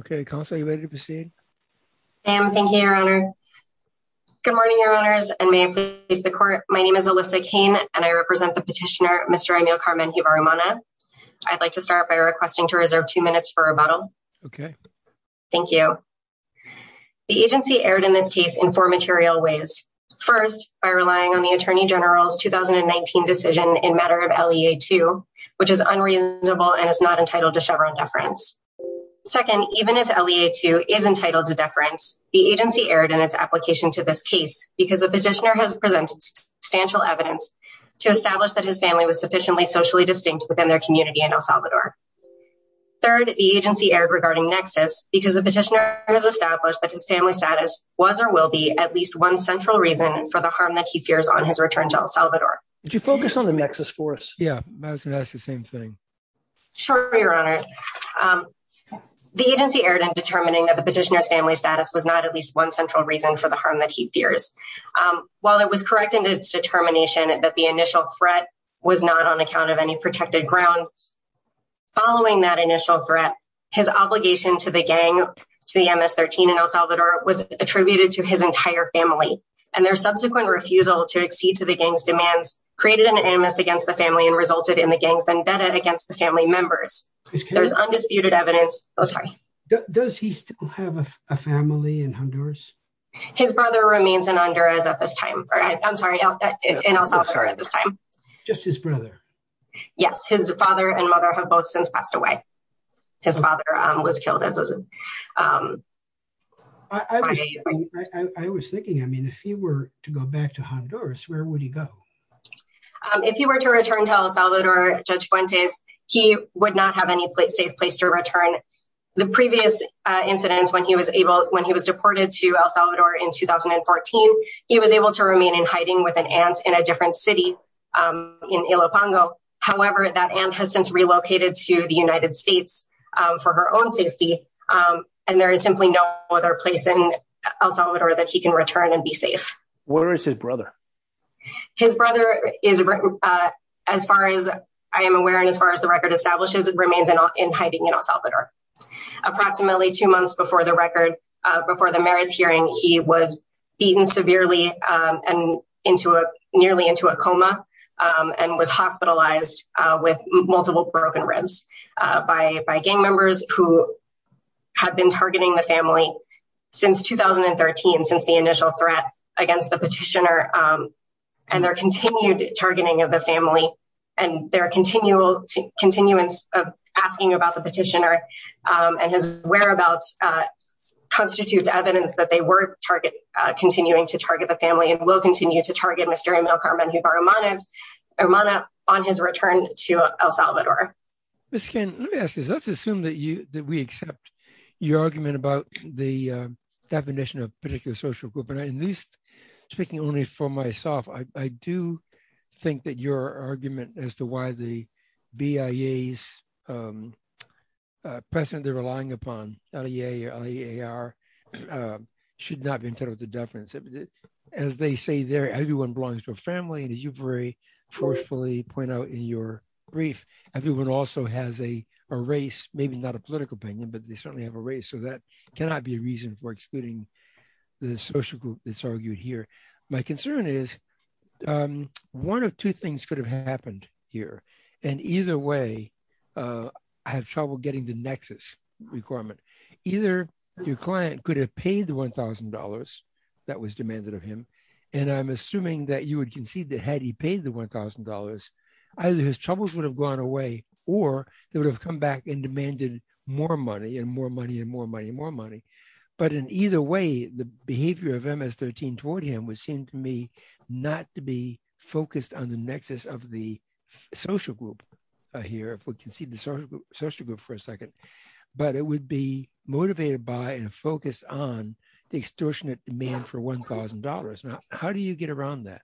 Okay, Councilor, are you ready to proceed? I am. Thank you, Your Honor. Good morning, Your Honors, and may it please the Court. My name is Alyssa Kane, and I represent the petitioner, Mr. Emile Carmen-Mjivar-Umana. I'd like to start by requesting to reserve two minutes for rebuttal. Okay. Thank you. The agency erred in this case in four material ways. First, by relying on the Attorney General's 2019 decision in matter of LEA 2, which is unreasonable and is not entitled to Chevron deference. Second, even if LEA 2 is entitled to deference, the agency erred in its application to this case because the petitioner has presented substantial evidence to establish that his family was sufficiently socially distinct within their community in El Salvador. Third, the agency erred regarding Nexus because the petitioner has established that his family status was or will be at least one central reason for the harm that he fears on his return to El Salvador. Would you focus on the Nexus for us? Yeah, I was going to ask you the same thing. Sure, Your Honor. The agency erred in determining that the petitioner's family status was not at least one central reason for the harm that he fears. While it was correct in its determination that the initial threat was not on account of any protected ground, following that initial threat, his obligation to the gang, to the MS-13 in El Salvador, was attributed to his entire family. And their subsequent refusal to accede to the gang's demands created an animus against the family and resulted in the gang's vendetta against the family members. There's undisputed evidence. Oh, sorry. Does he still have a family in Honduras? His brother remains in Honduras at this time. I'm sorry, in El Salvador at this time. Just his brother? Yes, his father and mother have both since passed away. His father was killed. I was thinking, I mean, if he were to go back to Honduras, where would he go? If he were to return to El Salvador, Judge Fuentes, he would not have any safe place to return. The previous incidents when he was able, when he was deported to El Salvador in 2014, he was able to remain in hiding with an aunt in a different city, in Ilopongo. However, that aunt has since relocated to the United States for her own safety. And there is simply no other place in El Salvador that he can return and be safe. Where is his brother? His brother is, as far as I am aware, and as far as the record establishes, remains in hiding in El Salvador. Approximately two months before the record, before the marriage hearing, he was beaten severely and nearly into a coma and was hospitalized with multiple broken ribs by gang members who had been targeting the family since 2013, since the initial threat against the petitioner and their continued targeting of the family and their continuance of asking about the petitioner and his whereabouts constitutes evidence that they were continuing to target the family and will continue to target Mr. Emil Carmen Hubar-Armanez, Armana, on his return to El Salvador. Ms. Kane, let me ask this. Let's assume that we accept your argument about the definition of particular social group. And at least speaking only for myself, I do think that your argument as to why the BIA's precedent they're relying upon, LEA or LEAR, should not be entitled to deference. As they say there, everyone belongs to a family. And as you very forcefully point out in your brief, everyone also has a race, maybe not a political opinion, but they certainly have a race. So that cannot be a reason for excluding the social group that's argued here. My concern is one of two things could have happened here. And either way, I have trouble getting the nexus requirement. Either your client could have paid the $1,000 that was demanded of him. And I'm assuming that you would concede that had he paid the $1,000, either his troubles would have gone away or they would have come back and demanded more money and more money and more money and more money. But in either way, the behavior of MS-13 toward him would seem to me not to be focused on the nexus of the social group here, if we can see the social group for a second. But it would be motivated by and focused on the extortionate demand for $1,000. Now, how do you get around that?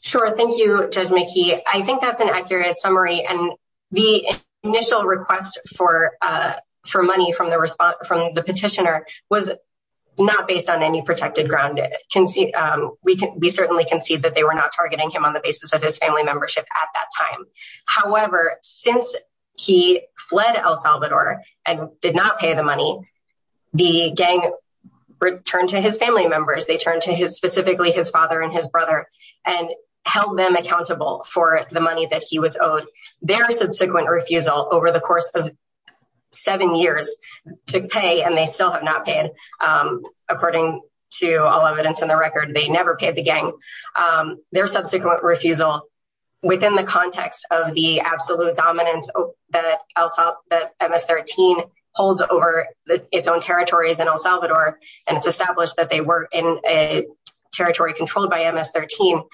Sure. Thank you, Judge McKee. I think that's an accurate summary. And the initial request for money from the petitioner was not based on any protected ground. We certainly concede that they were not targeting him on the basis of his family membership at that time. However, since he fled El Salvador and did not pay the money, the gang returned to his family members. They turned to specifically his father and his brother and held them accountable for the money that he was owed. Their subsequent refusal over the course of seven years to pay, and they still have not paid, according to all evidence in the record, they never paid the gang. Their subsequent refusal within the context of the absolute dominance that MS-13 holds over its own territories in El Salvador, and it's established that they were in a territory controlled by MS-13.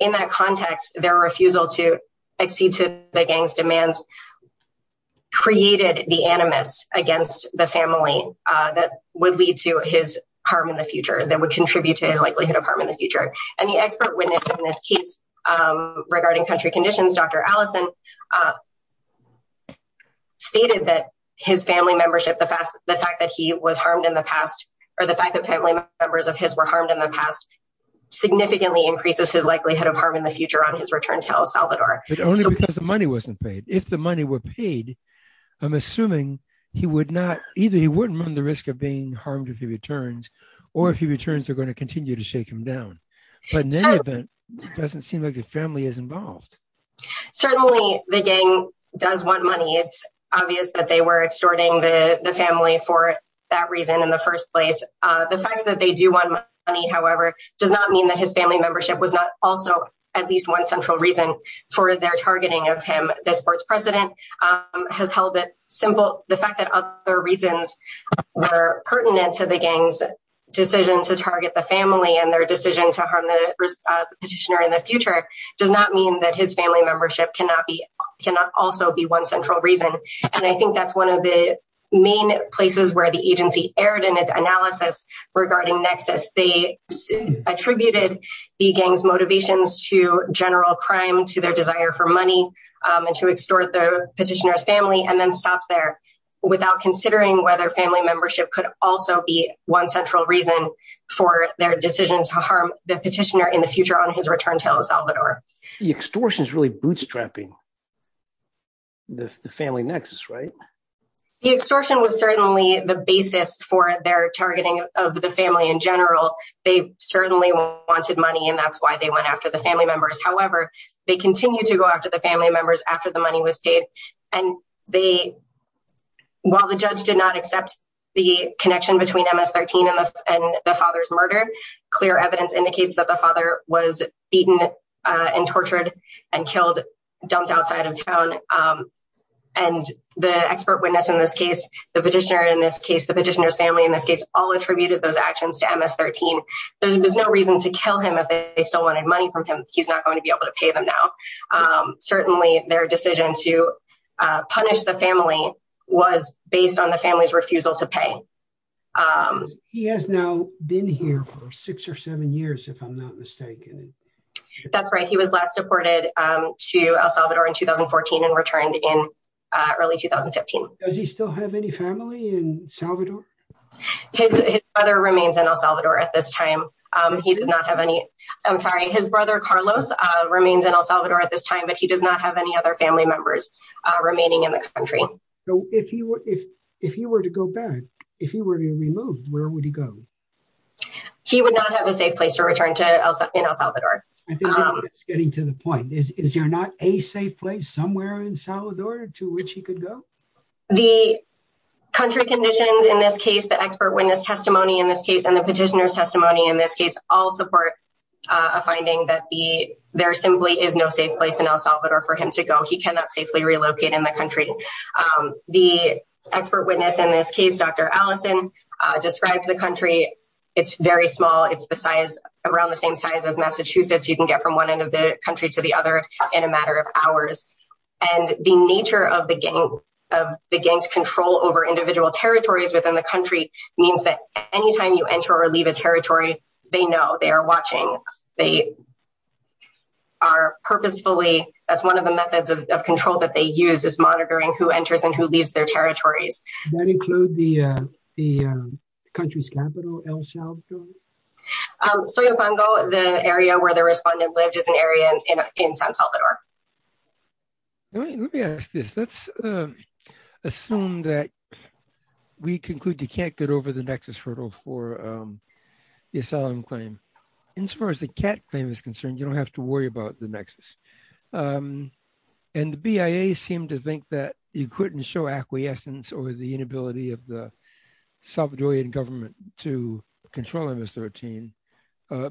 In that context, their refusal to accede to the gang's demands created the animus against the family that would lead to his harm in the future, that would contribute to his likelihood of harm in the future. And the expert witness in this case regarding country conditions, Dr. Allison, stated that his family membership, the fact that he was harmed in the past, or the fact that family members of his were harmed in the past significantly increases his likelihood of harm in the future on his return to El Salvador. But only because the money wasn't paid. If the money were paid, I'm assuming he would not, either he wouldn't run the risk of being harmed if he returns, or if he returns, they're going to continue to shake him down. But in any event, it doesn't seem like the family is involved. Certainly, the gang does want money. It's obvious that they were extorting the family for that reason in the first place. The fact that they do want money, however, does not mean that his family membership was not also at least one central reason for their targeting of him, the sports president. The fact that other reasons were pertinent to the gang's decision to target the family and their decision to harm the petitioner in the future does not mean that his family membership cannot also be one central reason. And I think that's one of the main places where the agency erred in its analysis regarding Nexus. They attributed the gang's motivations to general crime, to their desire for money, and to extort the petitioner's family and then stopped there without considering whether family membership could also be one central reason for their decision to harm the petitioner in the future on his return to El Salvador. The extortion is really bootstrapping the family Nexus, right? The extortion was certainly the basis for their targeting of the family in general. They certainly wanted money and that's why they went after the family members. However, they continue to go after the family members after the money was paid. And while the judge did not accept the connection between MS-13 and the father's murder, clear evidence indicates that the father was beaten and tortured and killed, dumped outside of town. And the expert witness in this case, the petitioner in this case, the petitioner's family in this case, all attributed those actions to MS-13. There's no reason to kill him if they still wanted money from him. He's not going to be able to pay them now. Certainly their decision to punish the family was based on the family's refusal to pay. He has now been here for six or seven years if I'm not mistaken. That's right. He was last deported to El Salvador in 2014 and returned in early 2015. Does he still have any family in El Salvador? His brother remains in El Salvador at this time. He does not have any, I'm sorry, his brother Carlos remains in El Salvador at this time, but he does not have any other family members remaining in the country. So if he were to go back, if he were to be removed, where would he go? He would not have a safe place to return to in El Salvador. I think that's getting to the point. Is there not a safe place somewhere in El Salvador to which he could go? The country conditions in this case, the expert witness testimony in this case, and the petitioner's testimony in this case, all support a finding that there simply is no safe place in El Salvador for him to go. He cannot safely relocate in the country. The expert witness in this case, Dr. Allison, described the country. It's very small. It's the size, around the same size as Massachusetts. You can get from one end of the country to the other in a matter of hours. And the nature of the gang's control over individual territories within the country means that anytime you enter or leave a territory, they know, they are watching. They are purposefully, that's one of the methods of control that they use, is monitoring who enters and who leaves their territories. Does that include the country's capital, El Salvador? Soyobongo, the area where the respondent lived, is an area in San Salvador. Let me ask this. Let's assume that we conclude you can't get over the nexus hurdle for the asylum claim. And as far as the CAT claim is concerned, you don't have to worry about the nexus. And the BIA seemed to think that you couldn't show acquiescence or the inability of the Salvadorian government to control MS-13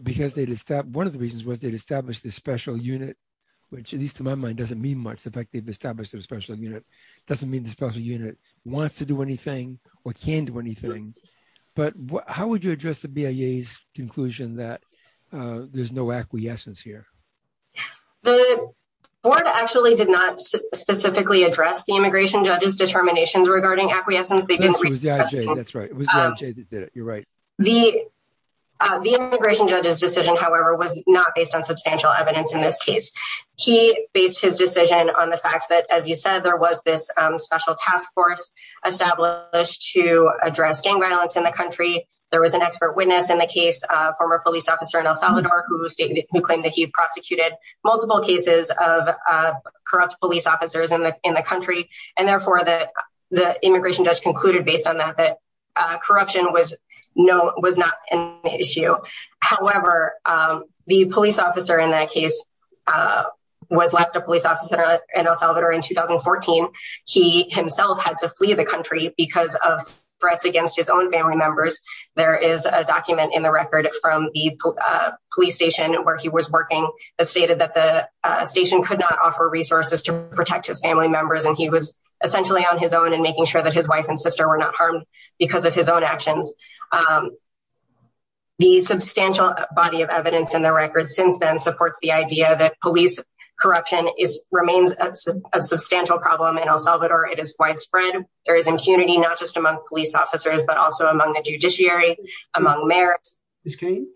because they'd established, one of the reasons was they'd established this special unit, which, at least to my mind, doesn't mean much. The fact they've established a special unit doesn't mean the special unit wants to do anything or can do anything. But how would you address the BIA's conclusion that there's no acquiescence here? The board actually did not specifically address the immigration judge's determinations regarding acquiescence. That's right. It was the IJ that did it. You're right. The immigration judge's decision, however, was not based on substantial evidence in this case. He based his decision on the fact that, as you said, there was this special task force established to address gang violence in the country. There was an expert witness in the case, a former police officer in El Salvador who claimed that he prosecuted multiple cases of corrupt police officers in the country. And therefore, the immigration judge concluded, based on that, that corruption was not an issue. However, the police officer in that case was less than a police officer in El Salvador in 2014. He himself had to flee the country because of threats against his own family members. There is a document in the record from the police station where he was working that stated that the station could not offer resources to protect his family members. And he was essentially on his own and making sure that his wife and sister were not harmed because of his own actions. The substantial body of evidence in the record since then supports the idea that police corruption remains a substantial problem in El Salvador. It is widespread. There is impunity, not just among police officers, but also among the judiciary, among mayors. Ms. Cain,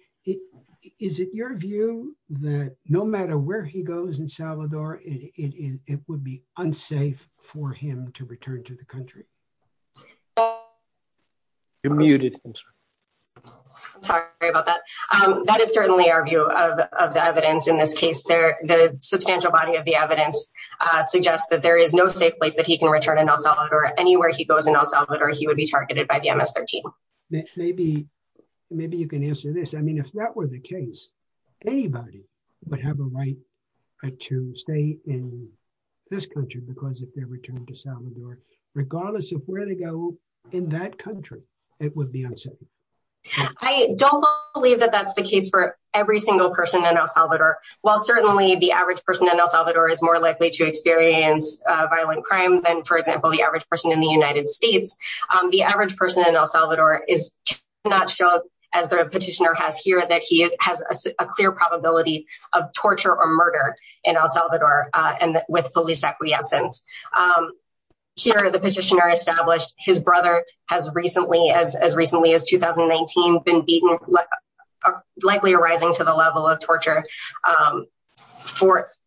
is it your view that no matter where he goes in Salvador, it would be unsafe for him to return to the country? You're muted. Sorry about that. That is certainly our view of the evidence. In this case, the substantial body of the evidence suggests that there is no safe place that he can return in El Salvador. Anywhere he goes in El Salvador, he would be targeted by the MS-13. Maybe you can answer this. I mean, if that were the case, anybody would have a right to stay in this country because if they return to Salvador, regardless of where they go in that country, it would be unsafe. I don't believe that that's the case for every single person in El Salvador. While certainly the average person in El Salvador is more likely to experience violent crime than, for example, the average person in the United States, the average person in El Salvador cannot show, as the petitioner has here, that he has a clear probability of torture or murder in El Salvador with police acquiescence. Here, the petitioner established his brother has recently, as recently as 2019, been beaten, likely arising to the level of torture.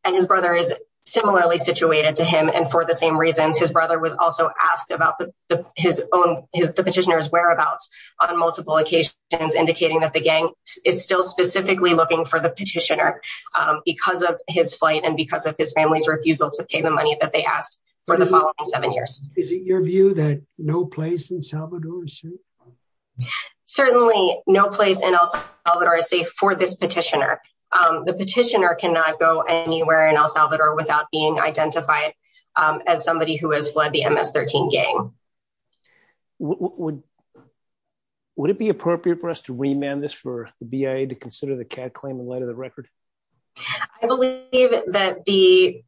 And his brother is similarly situated to him and for the same reasons. His brother was also asked about the petitioner's whereabouts on multiple occasions, indicating that the gang is still specifically looking for the petitioner because of his flight and because of his family's refusal to pay the money that they asked for the following seven years. Is it your view that no place in El Salvador is safe? Certainly, no place in El Salvador is safe for this petitioner. The petitioner cannot go anywhere in El Salvador without being identified as somebody who has fled the MS-13 gang. Would it be appropriate for us to remand this for the BIA to consider the CAD claim in light of the record? I believe that the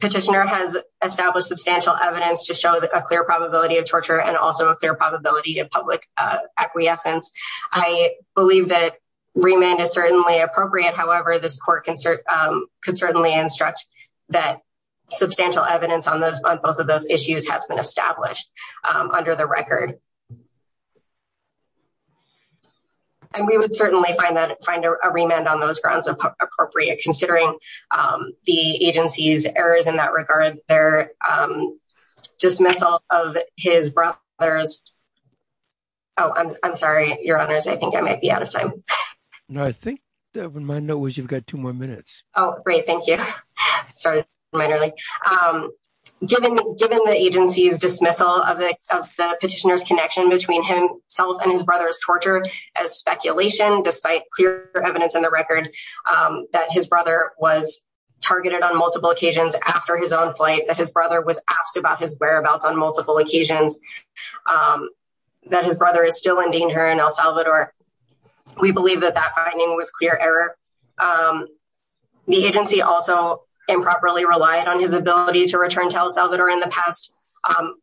petitioner has established substantial evidence to show a clear probability of torture and also a clear probability of public acquiescence. I believe that remand is certainly appropriate. However, this court can certainly instruct that substantial evidence on both of those issues has been established under the record. And we would certainly find a remand on those grounds appropriate, considering the agency's errors in that regard. Their dismissal of his brother's... Oh, I'm sorry, your honors. I think I might be out of time. No, I think the reminder was you've got two more minutes. Oh, great. Thank you. Sorry, I'm running late. Given the agency's dismissal of the petitioner's connection between himself and his brother's torture as speculation, despite clear evidence in the record that his brother was targeted on multiple occasions after his own flight, that his brother was asked about his whereabouts on multiple occasions, that his brother is still in danger in El Salvador, we believe that that finding was clear error. The agency also improperly relied on his ability to return to El Salvador in the past.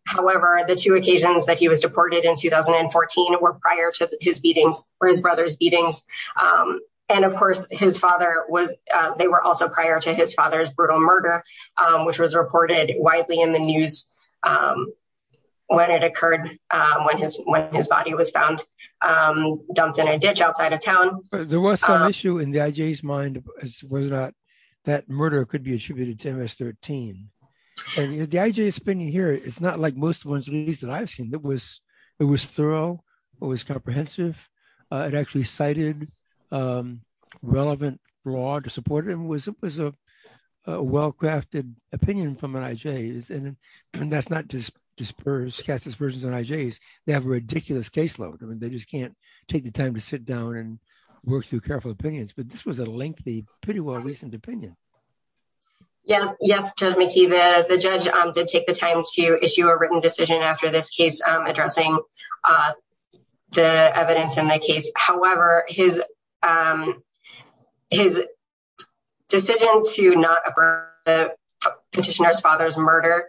However, the two occasions that he was deported in 2014 were prior to his brother's beatings. And of course, they were also prior to his father's brutal murder. Which was reported widely in the news when it occurred, when his body was found, dumped in a ditch outside of town. There was some issue in the IJ's mind whether or not that murder could be attributed to MS-13. And the IJ's opinion here is not like most of the ones that I've seen. It was thorough, it was comprehensive. It actually cited relevant law to support it and was a well-crafted opinion from IJ's. And that's not just dispersed, cast dispersions on IJ's. They have a ridiculous caseload. I mean, they just can't take the time to sit down and work through careful opinions. But this was a lengthy, pretty well-reasoned opinion. Yes, Judge McKee, the judge did take the time to issue a written decision after this case addressing the evidence in the case. However, his decision to not approve the petitioner's father's murder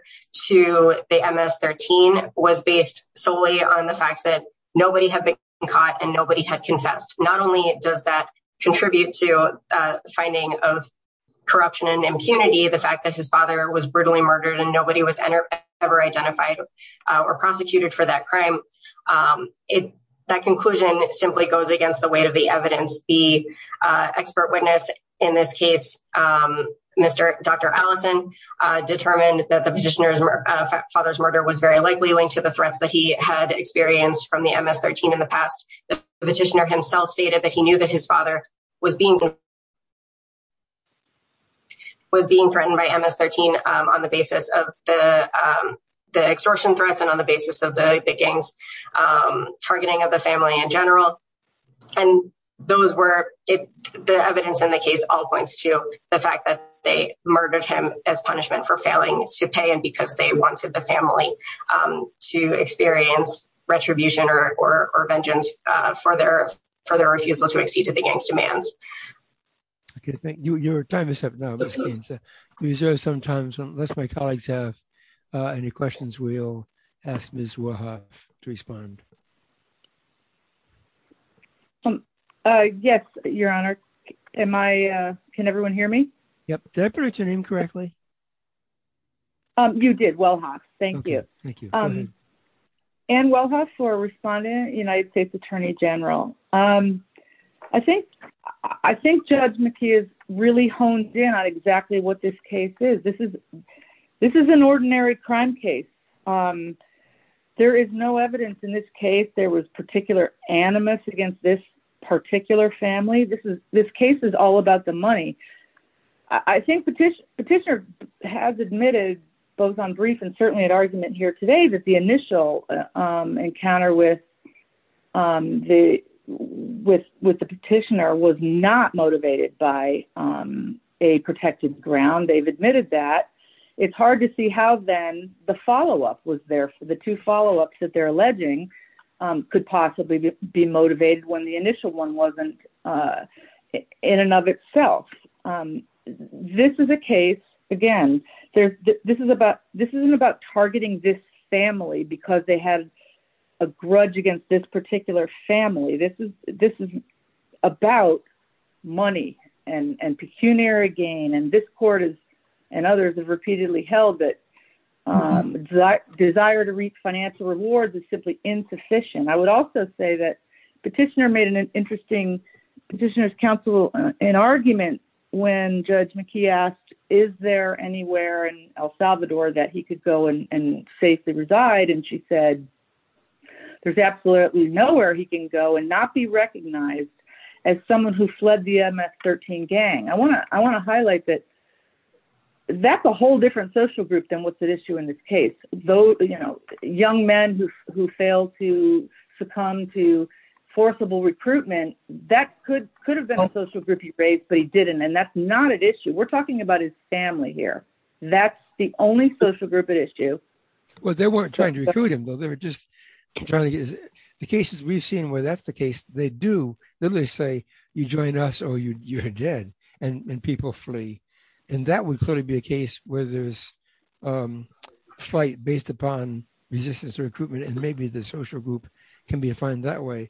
to the MS-13 was based solely on the fact that nobody had been caught and nobody had confessed. Not only does that contribute to finding of corruption and impunity, the fact that his father was brutally murdered and nobody was ever identified or prosecuted for that crime. That conclusion simply goes against the weight of the evidence. The expert witness in this case, Dr. Allison, determined that the petitioner's father's murder was very likely linked to the threats that he had experienced from the MS-13 in the past. The petitioner himself stated that he knew that his father was being threatened by MS-13 on the basis of the extortion threats and on the basis of the gang's targeting of the family in general. And those were, the evidence in the case all points to the fact that they murdered him as punishment for failing to pay and because they wanted the family to experience retribution or vengeance for their refusal to accede to the gang's demands. Okay, thank you. Your time is up now, Ms. Keane. Is there some time, unless my colleagues have any questions, we'll ask Ms. Wellhoff to respond. Yes, Your Honor. Am I, can everyone hear me? Yep. Did I pronounce your name correctly? You did, Wellhoff. Thank you. Thank you. Ann Wellhoff for responding, United States Attorney General. I think Judge McKee has really honed in on exactly what this case is. This is an ordinary crime case. There is no evidence in this case there was particular animus against this particular family. This case is all about the money. I think Petitioner has admitted both on brief and certainly at argument here today that the initial encounter with the Petitioner was not motivated by a protected ground. They've admitted that. It's hard to see how then the follow-up was there for the two follow-ups that they're alleging could possibly be motivated when the initial one wasn't in and of itself. This is a case, again, this isn't about targeting this family because they had a grudge against this particular family. This is about money and pecuniary gain and this court and others have repeatedly held that desire to reach financial rewards is simply insufficient. I would also say that Petitioner made an interesting, Petitioner's counsel, an argument when Judge McKee asked, is there anywhere in El Salvador that he could go and safely reside? And she said, there's absolutely nowhere he can go and not be recognized as someone who fled the MS-13 gang. I want to highlight that that's a whole different social group than what's at issue in this case. Though, you know, young men who fail to succumb to forcible recruitment, that could have been a social group he raised, but he didn't and that's not at issue. We're talking about his family here. That's the only social group at issue. Well, they weren't trying to recruit him though. They were just trying to get, the cases we've seen where that's the case, they do literally say you join us or you're dead and people flee. And that would clearly be a case where there's a fight based upon resistance to recruitment and maybe the social group can be defined that way.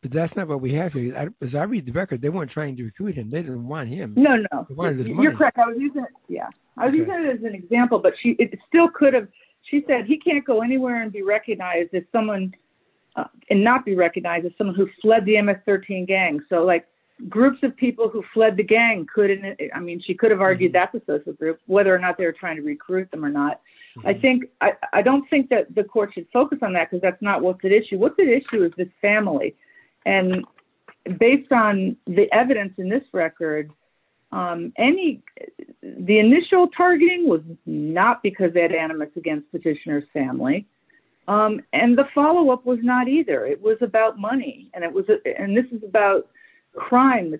But that's not what we have here. As I read the record, they weren't trying to recruit him. They didn't want him. No, no, you're correct. I was using it as an example, but it still could have, she said, he can't go anywhere and be recognized as someone and not be recognized as someone who fled the MS-13 gang. So like groups of people who fled the gang couldn't, I mean, she could have argued that's a social group, whether or not they were trying to recruit them or not. I think, I don't think that the court should focus on that because that's not what's at issue. What's at issue is this family. And based on the evidence in this record, the initial targeting was not because they had animus against Petitioner's family. And the follow-up was not either. It was about money and it was, and this is about crime,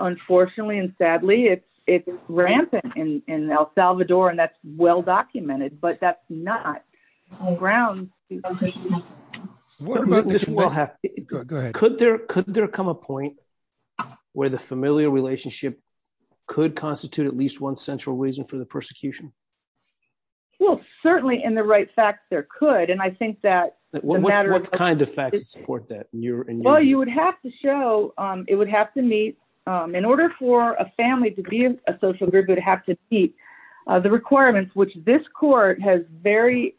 unfortunately, and sadly, it's rampant in El Salvador and that's well-documented, but that's not on ground. What about, go ahead. Could there come a point where the familial relationship could constitute at least one central reason for the persecution? Well, certainly in the right fact, there could. And I think that the matter of- What kind of facts support that in your- Well, you would have to show, it would have to meet, in order for a family to be a social group, it would have to meet the requirements which this court has very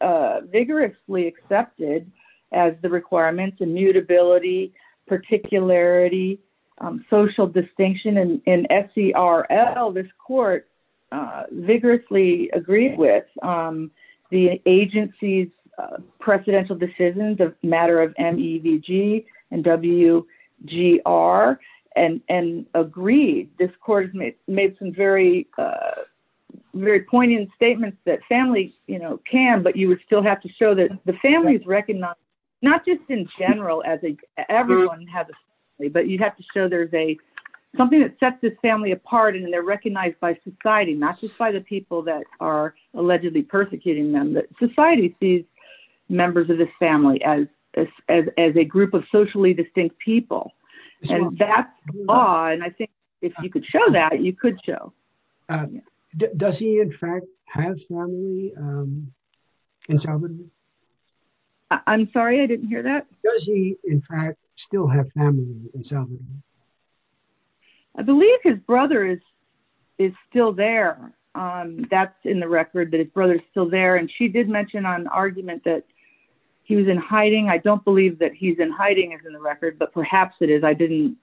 vigorously accepted as the requirements, immutability, particularity, social distinction, and in SCRL, this court vigorously agreed with the agency's precedential decisions of matter of MEVG and WGR and agreed. This court has made some very poignant statements that families can, but you would still have to show that the families recognize, not just in general, as everyone has a family, but you'd have to show there's something that sets this family apart and they're recognized by society, not just by the people that are allegedly persecuting them, that society sees members of this family as a group of socially distinct people. And that's the law. And I think if you could show that, you could show. Does he, in fact, have family in Salvador? I'm sorry, I didn't hear that. Does he, in fact, still have family in Salvador? I believe his brother is still there. That's in the record, that his brother's still there. And she did mention on argument that he was in hiding. I don't believe that he's in hiding is in the record, but perhaps it is. I didn't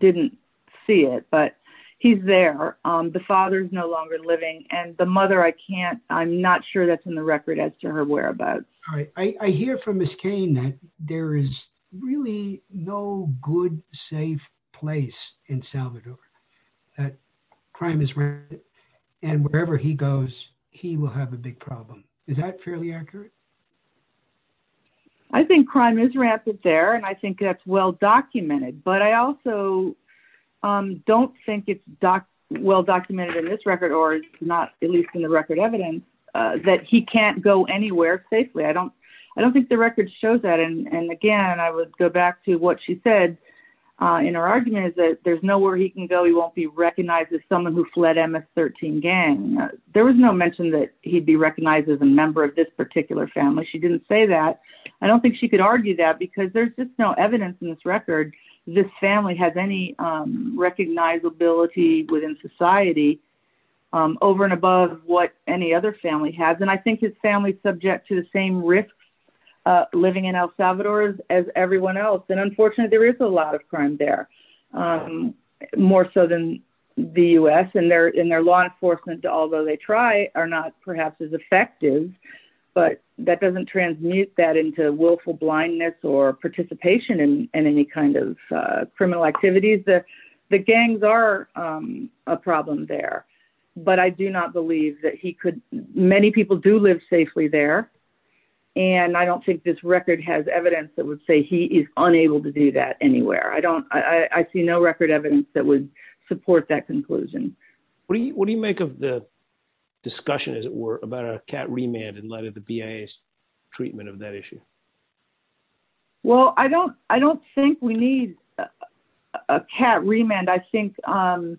see it, but he's there. The father's no longer living and the mother, I can't, I'm not sure that's in the record as to her whereabouts. All right, I hear from Ms. Cain that there is really no good, safe place in Salvador that crime is rampant and wherever he goes, he will have a big problem. Is that fairly accurate? I think crime is rampant there and I think that's well-documented, but I also don't think it's well-documented in this record or not, at least in the record evidence that he can't go anywhere safely. I don't think the record shows that. And again, I would go back to what she said in her argument is that there's nowhere he can go. He won't be recognized as someone who fled MS-13 gang. There was no mention that he'd be recognized as a member of this particular family. She didn't say that. I don't think she could argue that because there's just no evidence in this record this family has any recognizability within society over and above what any other family has. And I think his family's subject to the same risks living in El Salvador as everyone else. And unfortunately there is a lot of crime there, more so than the US and their law enforcement, although they try are not perhaps as effective, but that doesn't transmute that into willful blindness or participation in any kind of criminal activities. The gangs are a problem there, but I do not believe that he could, many people do live safely there. And I don't think this record has evidence that would say he is unable to do that anywhere. I don't, I see no record evidence that would support that conclusion. What do you make of the discussion as it were about a cat remand in light of the BIA's treatment of that issue? Well, I don't think we need a cat remand. I think, I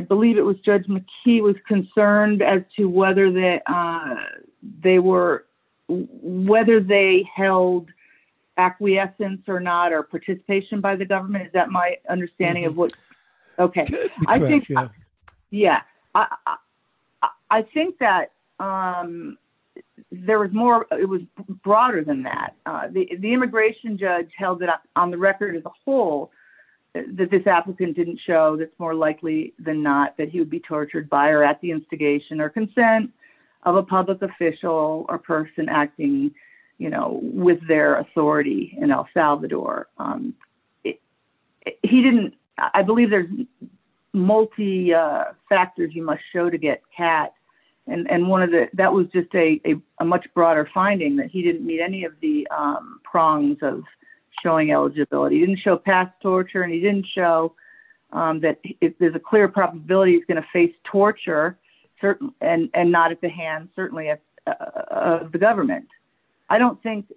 believe it was Judge McKee was concerned as to whether they were, whether they held acquiescence or not, or participation by the government. Is that my understanding of what? Okay, I think, yeah. I think that there was more, it was broader than that. The immigration judge held that on the record as a whole, that this applicant didn't show that's more likely than not that he would be tortured by or at the instigation or consent of a public official or person acting, with their authority in El Salvador. He didn't, I believe there's multi factors you must show to get cat. And one of the, that was just a much broader finding that he didn't meet any of the prongs of showing eligibility. He didn't show past torture and he didn't show that if there's a clear probability he's gonna face torture and not at the hands certainly of the government. I don't think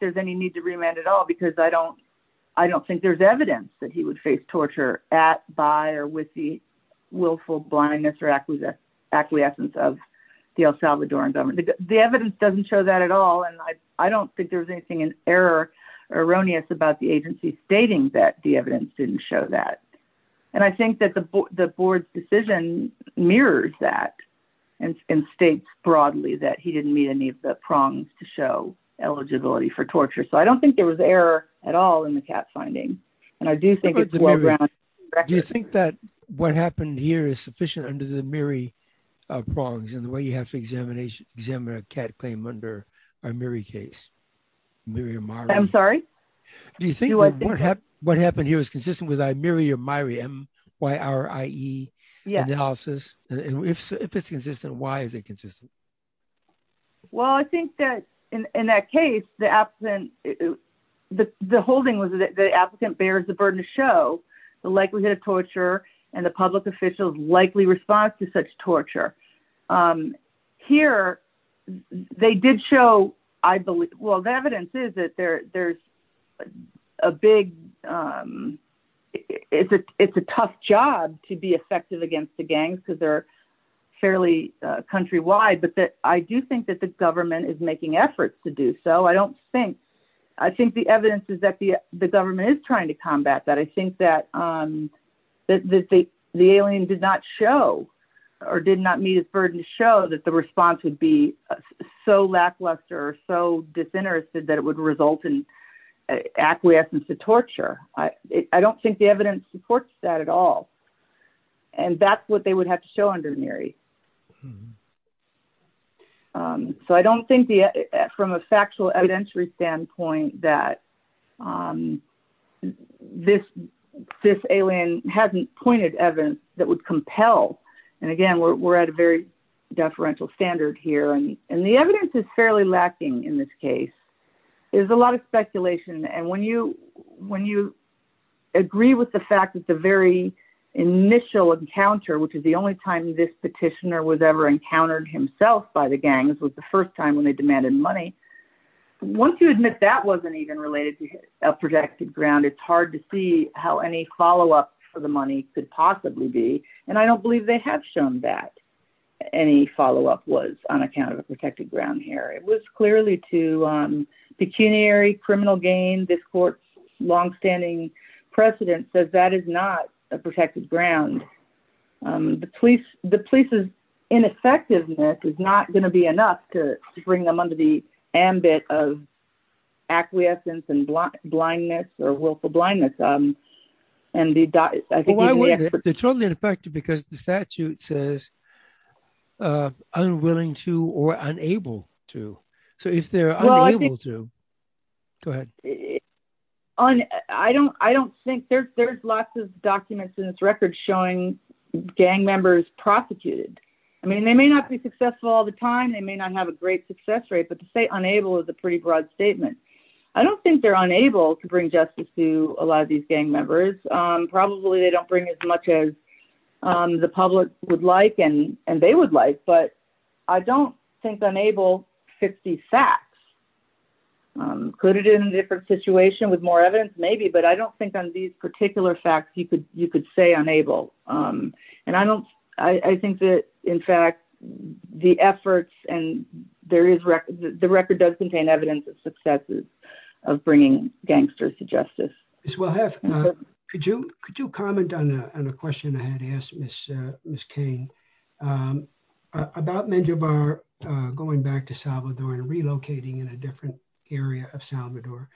there's any need to remand at all because I don't think there's evidence that he would face torture at, by or with the willful blindness or acquiescence of the El Salvadoran government. The evidence doesn't show that at all. And I don't think there was anything in error or erroneous about the agency stating that the evidence didn't show that. And I think that the board's decision mirrors that and states broadly that he didn't meet any of the prongs to show eligibility for torture. So I don't think there was error at all in the cat finding. And I do think it's well-grounded. Do you think that what happened here is sufficient under the Miri prongs and the way you have to examine a cat claim under a Miri case, Miri or Mari? I'm sorry? Do you think that what happened here is consistent with a Miri or Mari, M-Y-R-I-E analysis? And if it's consistent, why is it consistent? Well, I think that in that case, the holding was that the applicant bears the burden to show the likelihood of torture and the public official's likely response to such torture. Here, they did show, I believe, well, the evidence is that there's a big, it's a tough job to be effective against the gangs because they're fairly countrywide. But I do think that the government is making efforts to do so. I don't think, I think the evidence is that the government is trying to combat that. I think that the alien did not show or did not meet his burden to show that the response would be so lackluster, so disinterested that it would result in acquiescence to torture. I don't think the evidence supports that at all. And that's what they would have to show under Miri. So I don't think from a factual evidentiary standpoint that this alien hasn't pointed evidence that would compel. And again, we're at a very deferential standard here. And the evidence is fairly lacking in this case. There's a lot of speculation. And when you agree with the fact that the very initial encounter, which is the only time this petitioner was ever encountered himself by the gangs was the first time when they demanded money. Once you admit that wasn't even related to a protected ground, it's hard to see how any follow-up for the money could possibly be. And I don't believe they have shown that any follow-up was on account of a protected ground here. It was clearly to pecuniary criminal gain. This court's longstanding precedent says that is not a protected ground. The police's ineffectiveness is not gonna be enough to bring them under the ambit of acquiescence and blindness or willful blindness. And I think even the experts- Well, why wouldn't it? They're totally ineffective because the statute says unwilling to or unable to. So if they're unable to, go ahead. I don't think, there's lots of documents in this record showing gang members prosecuted. I mean, they may not be successful all the time. They may not have a great success rate, but to say unable is a pretty broad statement. I don't think they're unable to bring justice to a lot of these gang members. Probably they don't bring as much as the public would like and they would like, but I don't think unable fits these facts. Could it in a different situation with more evidence? Maybe, but I don't think on these particular facts you could say unable. And I think that, in fact, the efforts and the record does contain evidence of successes of bringing gangsters to justice. Ms. Wilhuff, could you comment on a question I had asked Ms. Kane about Menjobar going back to Salvador and relocating in a different area of Salvador?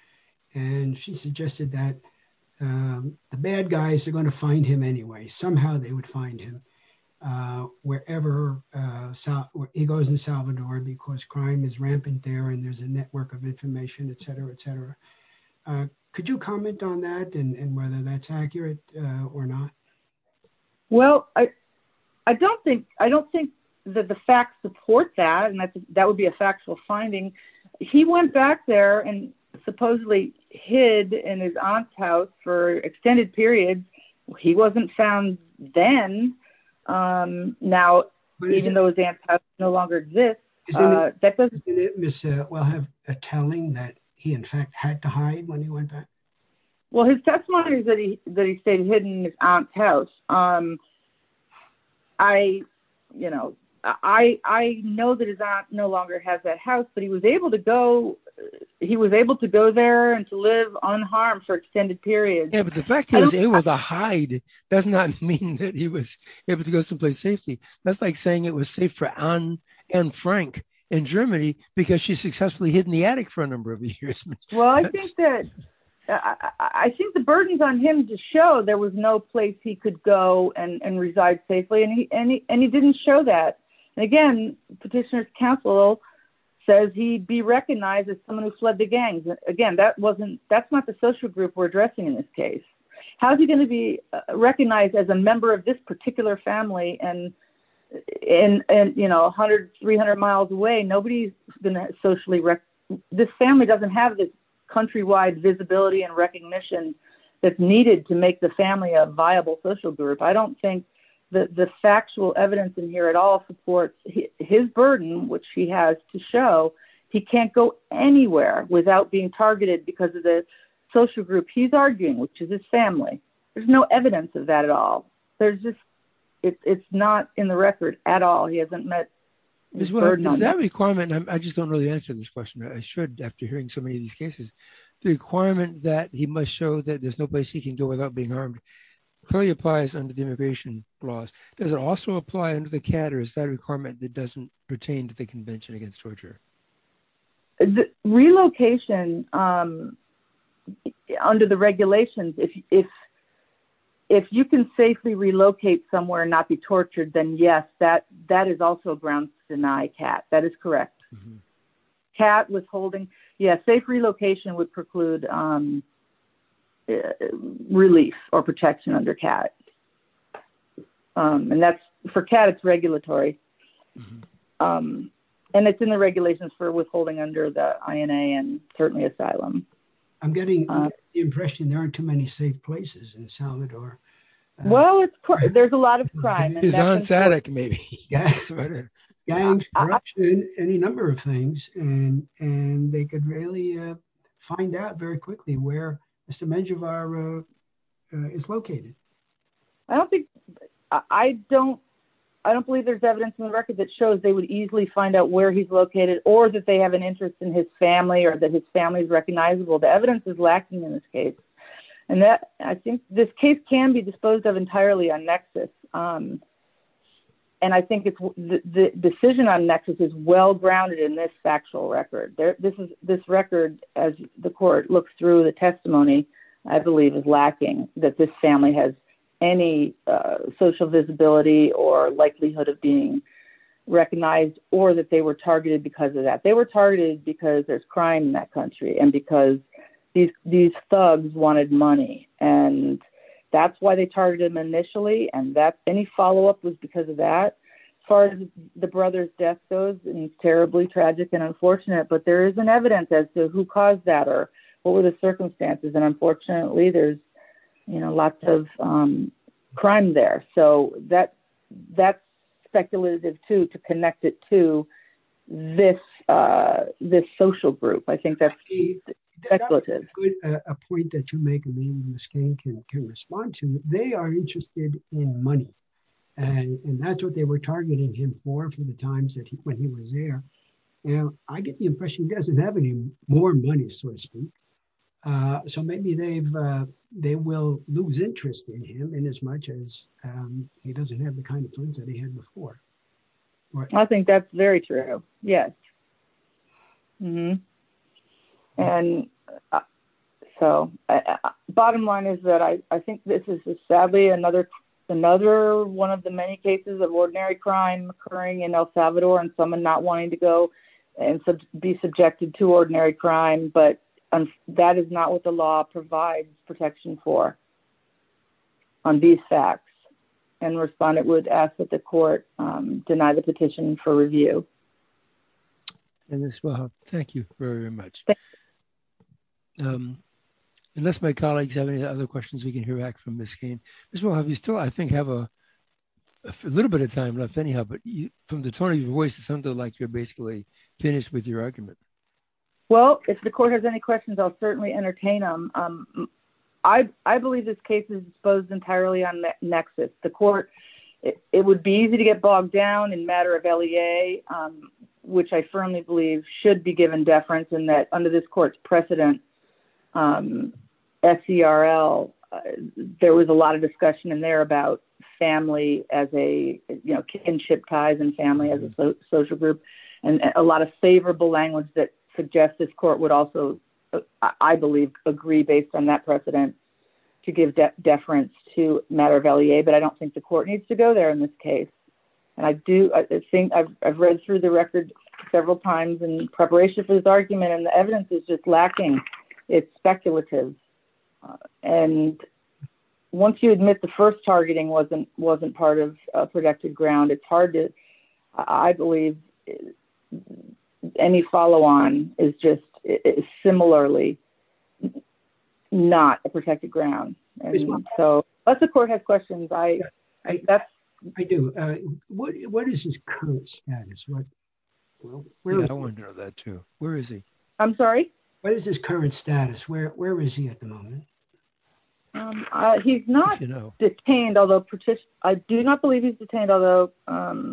And she suggested that the bad guys are gonna find him anyway. Somehow they would find him wherever he goes in Salvador because crime is rampant there and there's a network of information et cetera, et cetera. Could you comment on that and whether that's accurate or not? Well, I don't think that the facts support that and that would be a factual finding. He went back there and supposedly hid in his aunt's house for extended periods. He wasn't found then. Now, even though his aunt's house no longer exists. Isn't it, Ms. Wilhuff, a telling that he in fact had to hide when he went back? Well, his testimony is that he stayed hidden in his aunt's house. I know that his aunt no longer has that house but he was able to go there and to live unharmed for extended periods. Yeah, but the fact that he was able to hide does not mean that he was able to go someplace safely. That's like saying it was safe for Anne and Frank in Germany because she successfully hid in the attic for a number of years. Well, I think the burdens on him to show there was no place he could go and reside safely and he didn't show that. And again, petitioner's counsel says he'd be recognized as someone who fled the gangs. Again, that's not the social group we're addressing in this case. How's he gonna be recognized as a member of this particular family? And 100, 300 miles away, nobody's been socially... This family doesn't have the countrywide visibility and recognition that's needed to make the family a viable social group. I don't think the factual evidence in here at all supports his burden, which he has to show he can't go anywhere without being targeted because of the social group he's arguing, which is his family. There's no evidence of that at all. There's just, it's not in the record at all. He hasn't met his burden. Does that requirement, I just don't really answer this question. I should, after hearing so many of these cases, the requirement that he must show that there's no place he can go without being harmed clearly applies under the immigration laws. Does it also apply under the CAT or is that a requirement that doesn't pertain to the Convention Against Torture? Relocation, under the regulations, if you can safely relocate somewhere and not be tortured, then yes, that is also grounds to deny CAT. That is correct. CAT withholding, yeah. Safe relocation would preclude relief or protection under CAT. And that's, for CAT, it's regulatory. And it's in the regulations for withholding under the INA and certainly asylum. I'm getting the impression there aren't too many safe places in Salvador. Well, it's, there's a lot of crime. His aunt's attic, maybe. Gangs, corruption, any number of things. And they could really find out very quickly where Mr. Medjevar is located. I don't think, I don't, I don't believe there's evidence in the record that shows they would easily find out where he's located or that they have an interest in his family or that his family is recognizable. The evidence is lacking in this case. And that, I think this case can be disposed of entirely on nexus. And I think the decision on nexus is well-grounded in this factual record. This record, as the court looks through the testimony, I believe is lacking, that this family has any social visibility or likelihood of being recognized or that they were targeted because of that. They were targeted because there's crime in that country and because these thugs wanted money. And that's why they targeted them initially. And that, any follow-up was because of that. As far as the brother's death goes, it's terribly tragic and unfortunate, but there is an evidence as to who caused that or what were the circumstances. And unfortunately there's, you know, lots of crime there. So that's speculative too, to connect it to this social group. I think that's speculative. That's a good point that you make, and maybe Ms. Kane can respond to. They are interested in money and that's what they were targeting him for for the times when he was there. And I get the impression he doesn't have any more money, so to speak. So maybe they will lose interest in him in as much as he doesn't have the kind of funds that he had before. I think that's very true, yes. And so bottom line is that I think this is sadly another one of the many cases of ordinary crime occurring in El Salvador and someone not wanting to go and be subjected to ordinary crime, but that is not what the law provides protection for on these facts. And respondent would ask that the court deny the petition for review. Ms. Wilhuff, thank you very much. Thanks. Unless my colleagues have any other questions we can hear back from Ms. Kane. Ms. Wilhuff, you still, I think, have a little bit of time left anyhow, but from the tone of your voice, it sounded like you're basically finished with your argument. Well, if the court has any questions, I'll certainly entertain them. I believe this case is disposed entirely on nexus. The court, it would be easy to get bogged down in matter of LEA, which I firmly believe should be given deference in that under this court's precedent, SCRL, there was a lot of discussion in there about family as a, you know, kinship ties and family as a social group, and a lot of favorable language that suggests this court would also, I believe, agree based on that precedent to give deference to matter of LEA. But I don't think the court needs to go there in this case. And I do, I think, I've read through the record several times in preparation for this argument, and the evidence is just lacking. It's speculative. And once you admit the first targeting wasn't part of a protected ground, it's hard to, I believe, any follow-on is just similarly not a protected ground. So unless the court has questions, that's- I do. What is his current status? What, where is he? I wanna know that, too. Where is he? I'm sorry? What is his current status? Where is he at the moment? He's not detained, although, I do not believe he's detained, although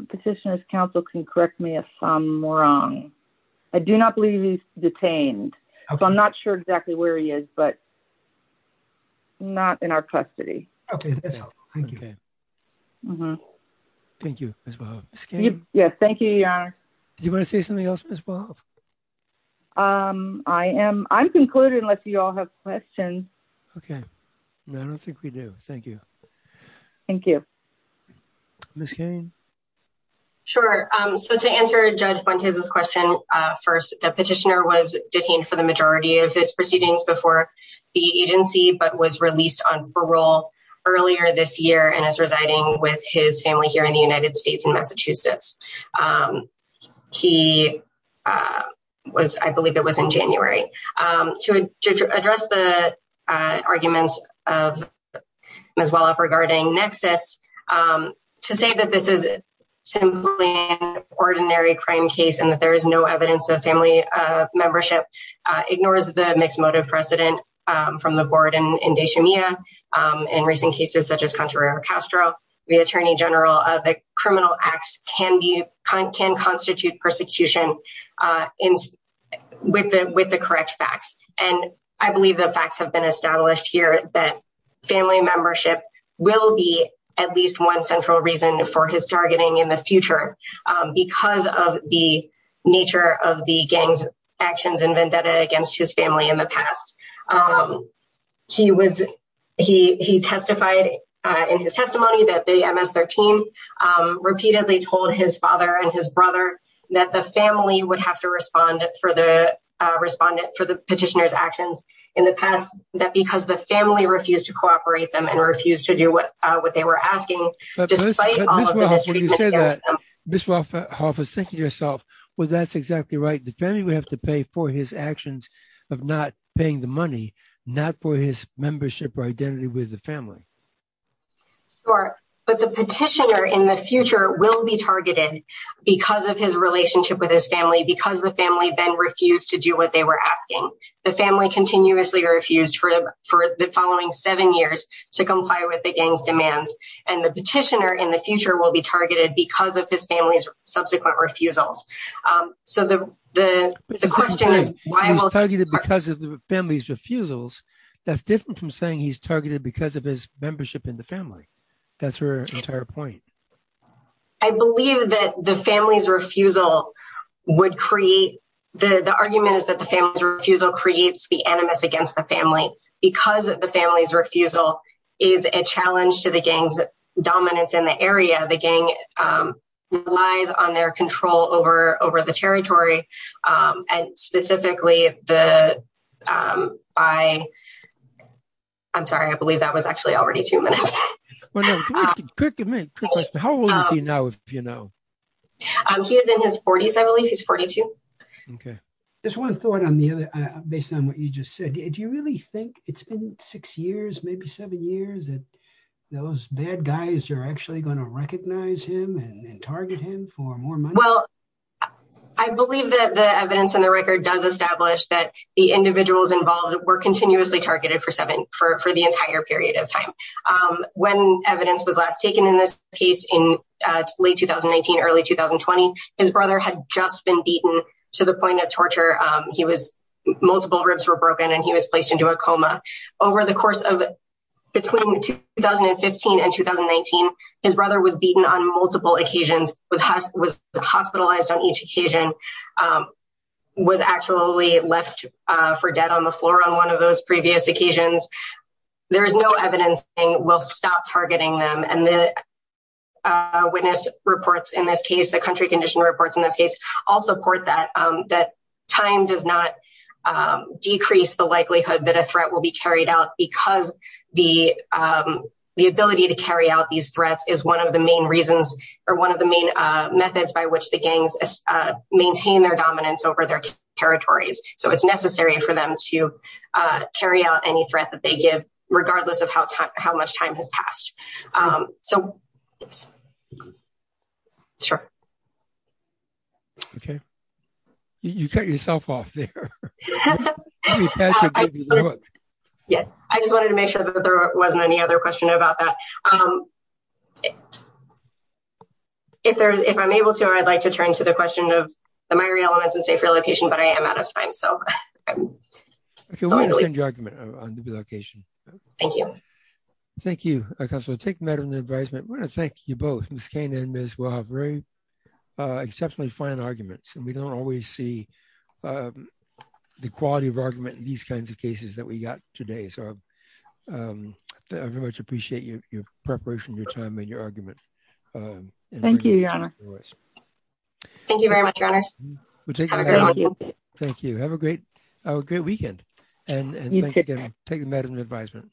Petitioner's Counsel can correct me if I'm wrong. I do not believe he's detained. So I'm not sure exactly where he is, but not in our custody. Okay, that's helpful. Thank you. Thank you, Ms. Bohoff. Ms. Cain? Yes, thank you, Your Honor. Do you wanna say something else, Ms. Bohoff? I am, I'm concluding unless you all have questions. Okay. No, I don't think we do. Thank you. Thank you. Ms. Cain? Sure. So to answer Judge Fontes' question first, that Petitioner was detained for the majority of his proceedings before the agency, but was released on parole earlier this year and is residing with his family here in the United States in Massachusetts. He was, I believe it was in January. To address the arguments of Ms. Bohoff regarding Nexus, to say that this is simply an ordinary crime case and that there is no evidence of family membership ignores the mixed motive precedent from the board in Deshamia in recent cases such as Contreras-Castro, the attorney general of the criminal acts can constitute persecution with the correct facts. And I believe the facts have been established here that family membership will be at least one central reason for his targeting in the future because of the nature of the gang's actions and vendetta against his family in the past. He testified in his testimony that the MS-13 repeatedly told his father and his brother that the family would have to respond for the Petitioner's actions in the past that because the family refused to cooperate them and refused to do what they were asking despite all of the mistreatment against them. Ms. Bohoff was thinking to herself, well, that's exactly right. The family would have to pay for his actions of not paying the money, not for his membership or identity with the family. Sure, but the Petitioner in the future will be targeted because of his relationship with his family because the family then refused to do what they were asking. The family continuously refused for the following seven years to comply with the gang's demands and the Petitioner in the future will be targeted because of his family's subsequent refusals. So the question is why will- He's targeted because of the family's refusals. That's different from saying he's targeted because of his membership in the family. That's her entire point. I believe that the family's refusal would create, the argument is that the family's refusal creates the animus against the family. Because of the family's refusal is a challenge to the gang's dominance in the area. The gang relies on their control over the territory and specifically the, I'm sorry, I believe that was actually already two minutes. Well, no, quick question. How old is he now, if you know? He is in his 40s, I believe. He's 42. Okay. Just one thought on the other, based on what you just said, do you really think it's been six years, maybe seven years that those bad guys are actually going to recognize him and target him for more money? Well, I believe that the evidence in the record does establish that the individuals involved were continuously targeted for the entire period of time. When evidence was last taken in this case in late 2019, early 2020, his brother had just been beaten to the point of torture. He was, multiple ribs were broken and he was placed into a coma. Over the course of, between 2015 and 2019, his brother was beaten on multiple occasions, was hospitalized on each occasion, was actually left for dead on the floor on one of those previous occasions. There is no evidence saying we'll stop targeting them. And the witness reports in this case, the country condition reports in this case, all support that time does not decrease the likelihood that a threat will be carried out because the ability to carry out these threats is one of the main reasons or one of the main methods by which the gangs maintain their dominance over their territories. So it's necessary for them to carry out any threat that they give, regardless of how much time has passed. So, sure. Okay. You cut yourself off there. I just wanted to make sure that there wasn't any other question about that. If I'm able to, I'd like to turn to the question of the Myery elements and safe relocation, but I am out of time. So, hopefully. I can wait to hear your argument on the relocation. Thank you. Thank you, Counselor. Take the matter into advisement. I want to thank you both, Ms. Kane and Ms. Wahab. Very exceptionally fine arguments. And we don't always see the quality of argument in these kinds of cases that we got today. So, I very much appreciate your preparation, your time, and your argument. Thank you, Your Honor. Thank you very much, Your Honors. Have a great weekend. Thank you. Have a great weekend. And thank you again. Take the matter into advisement.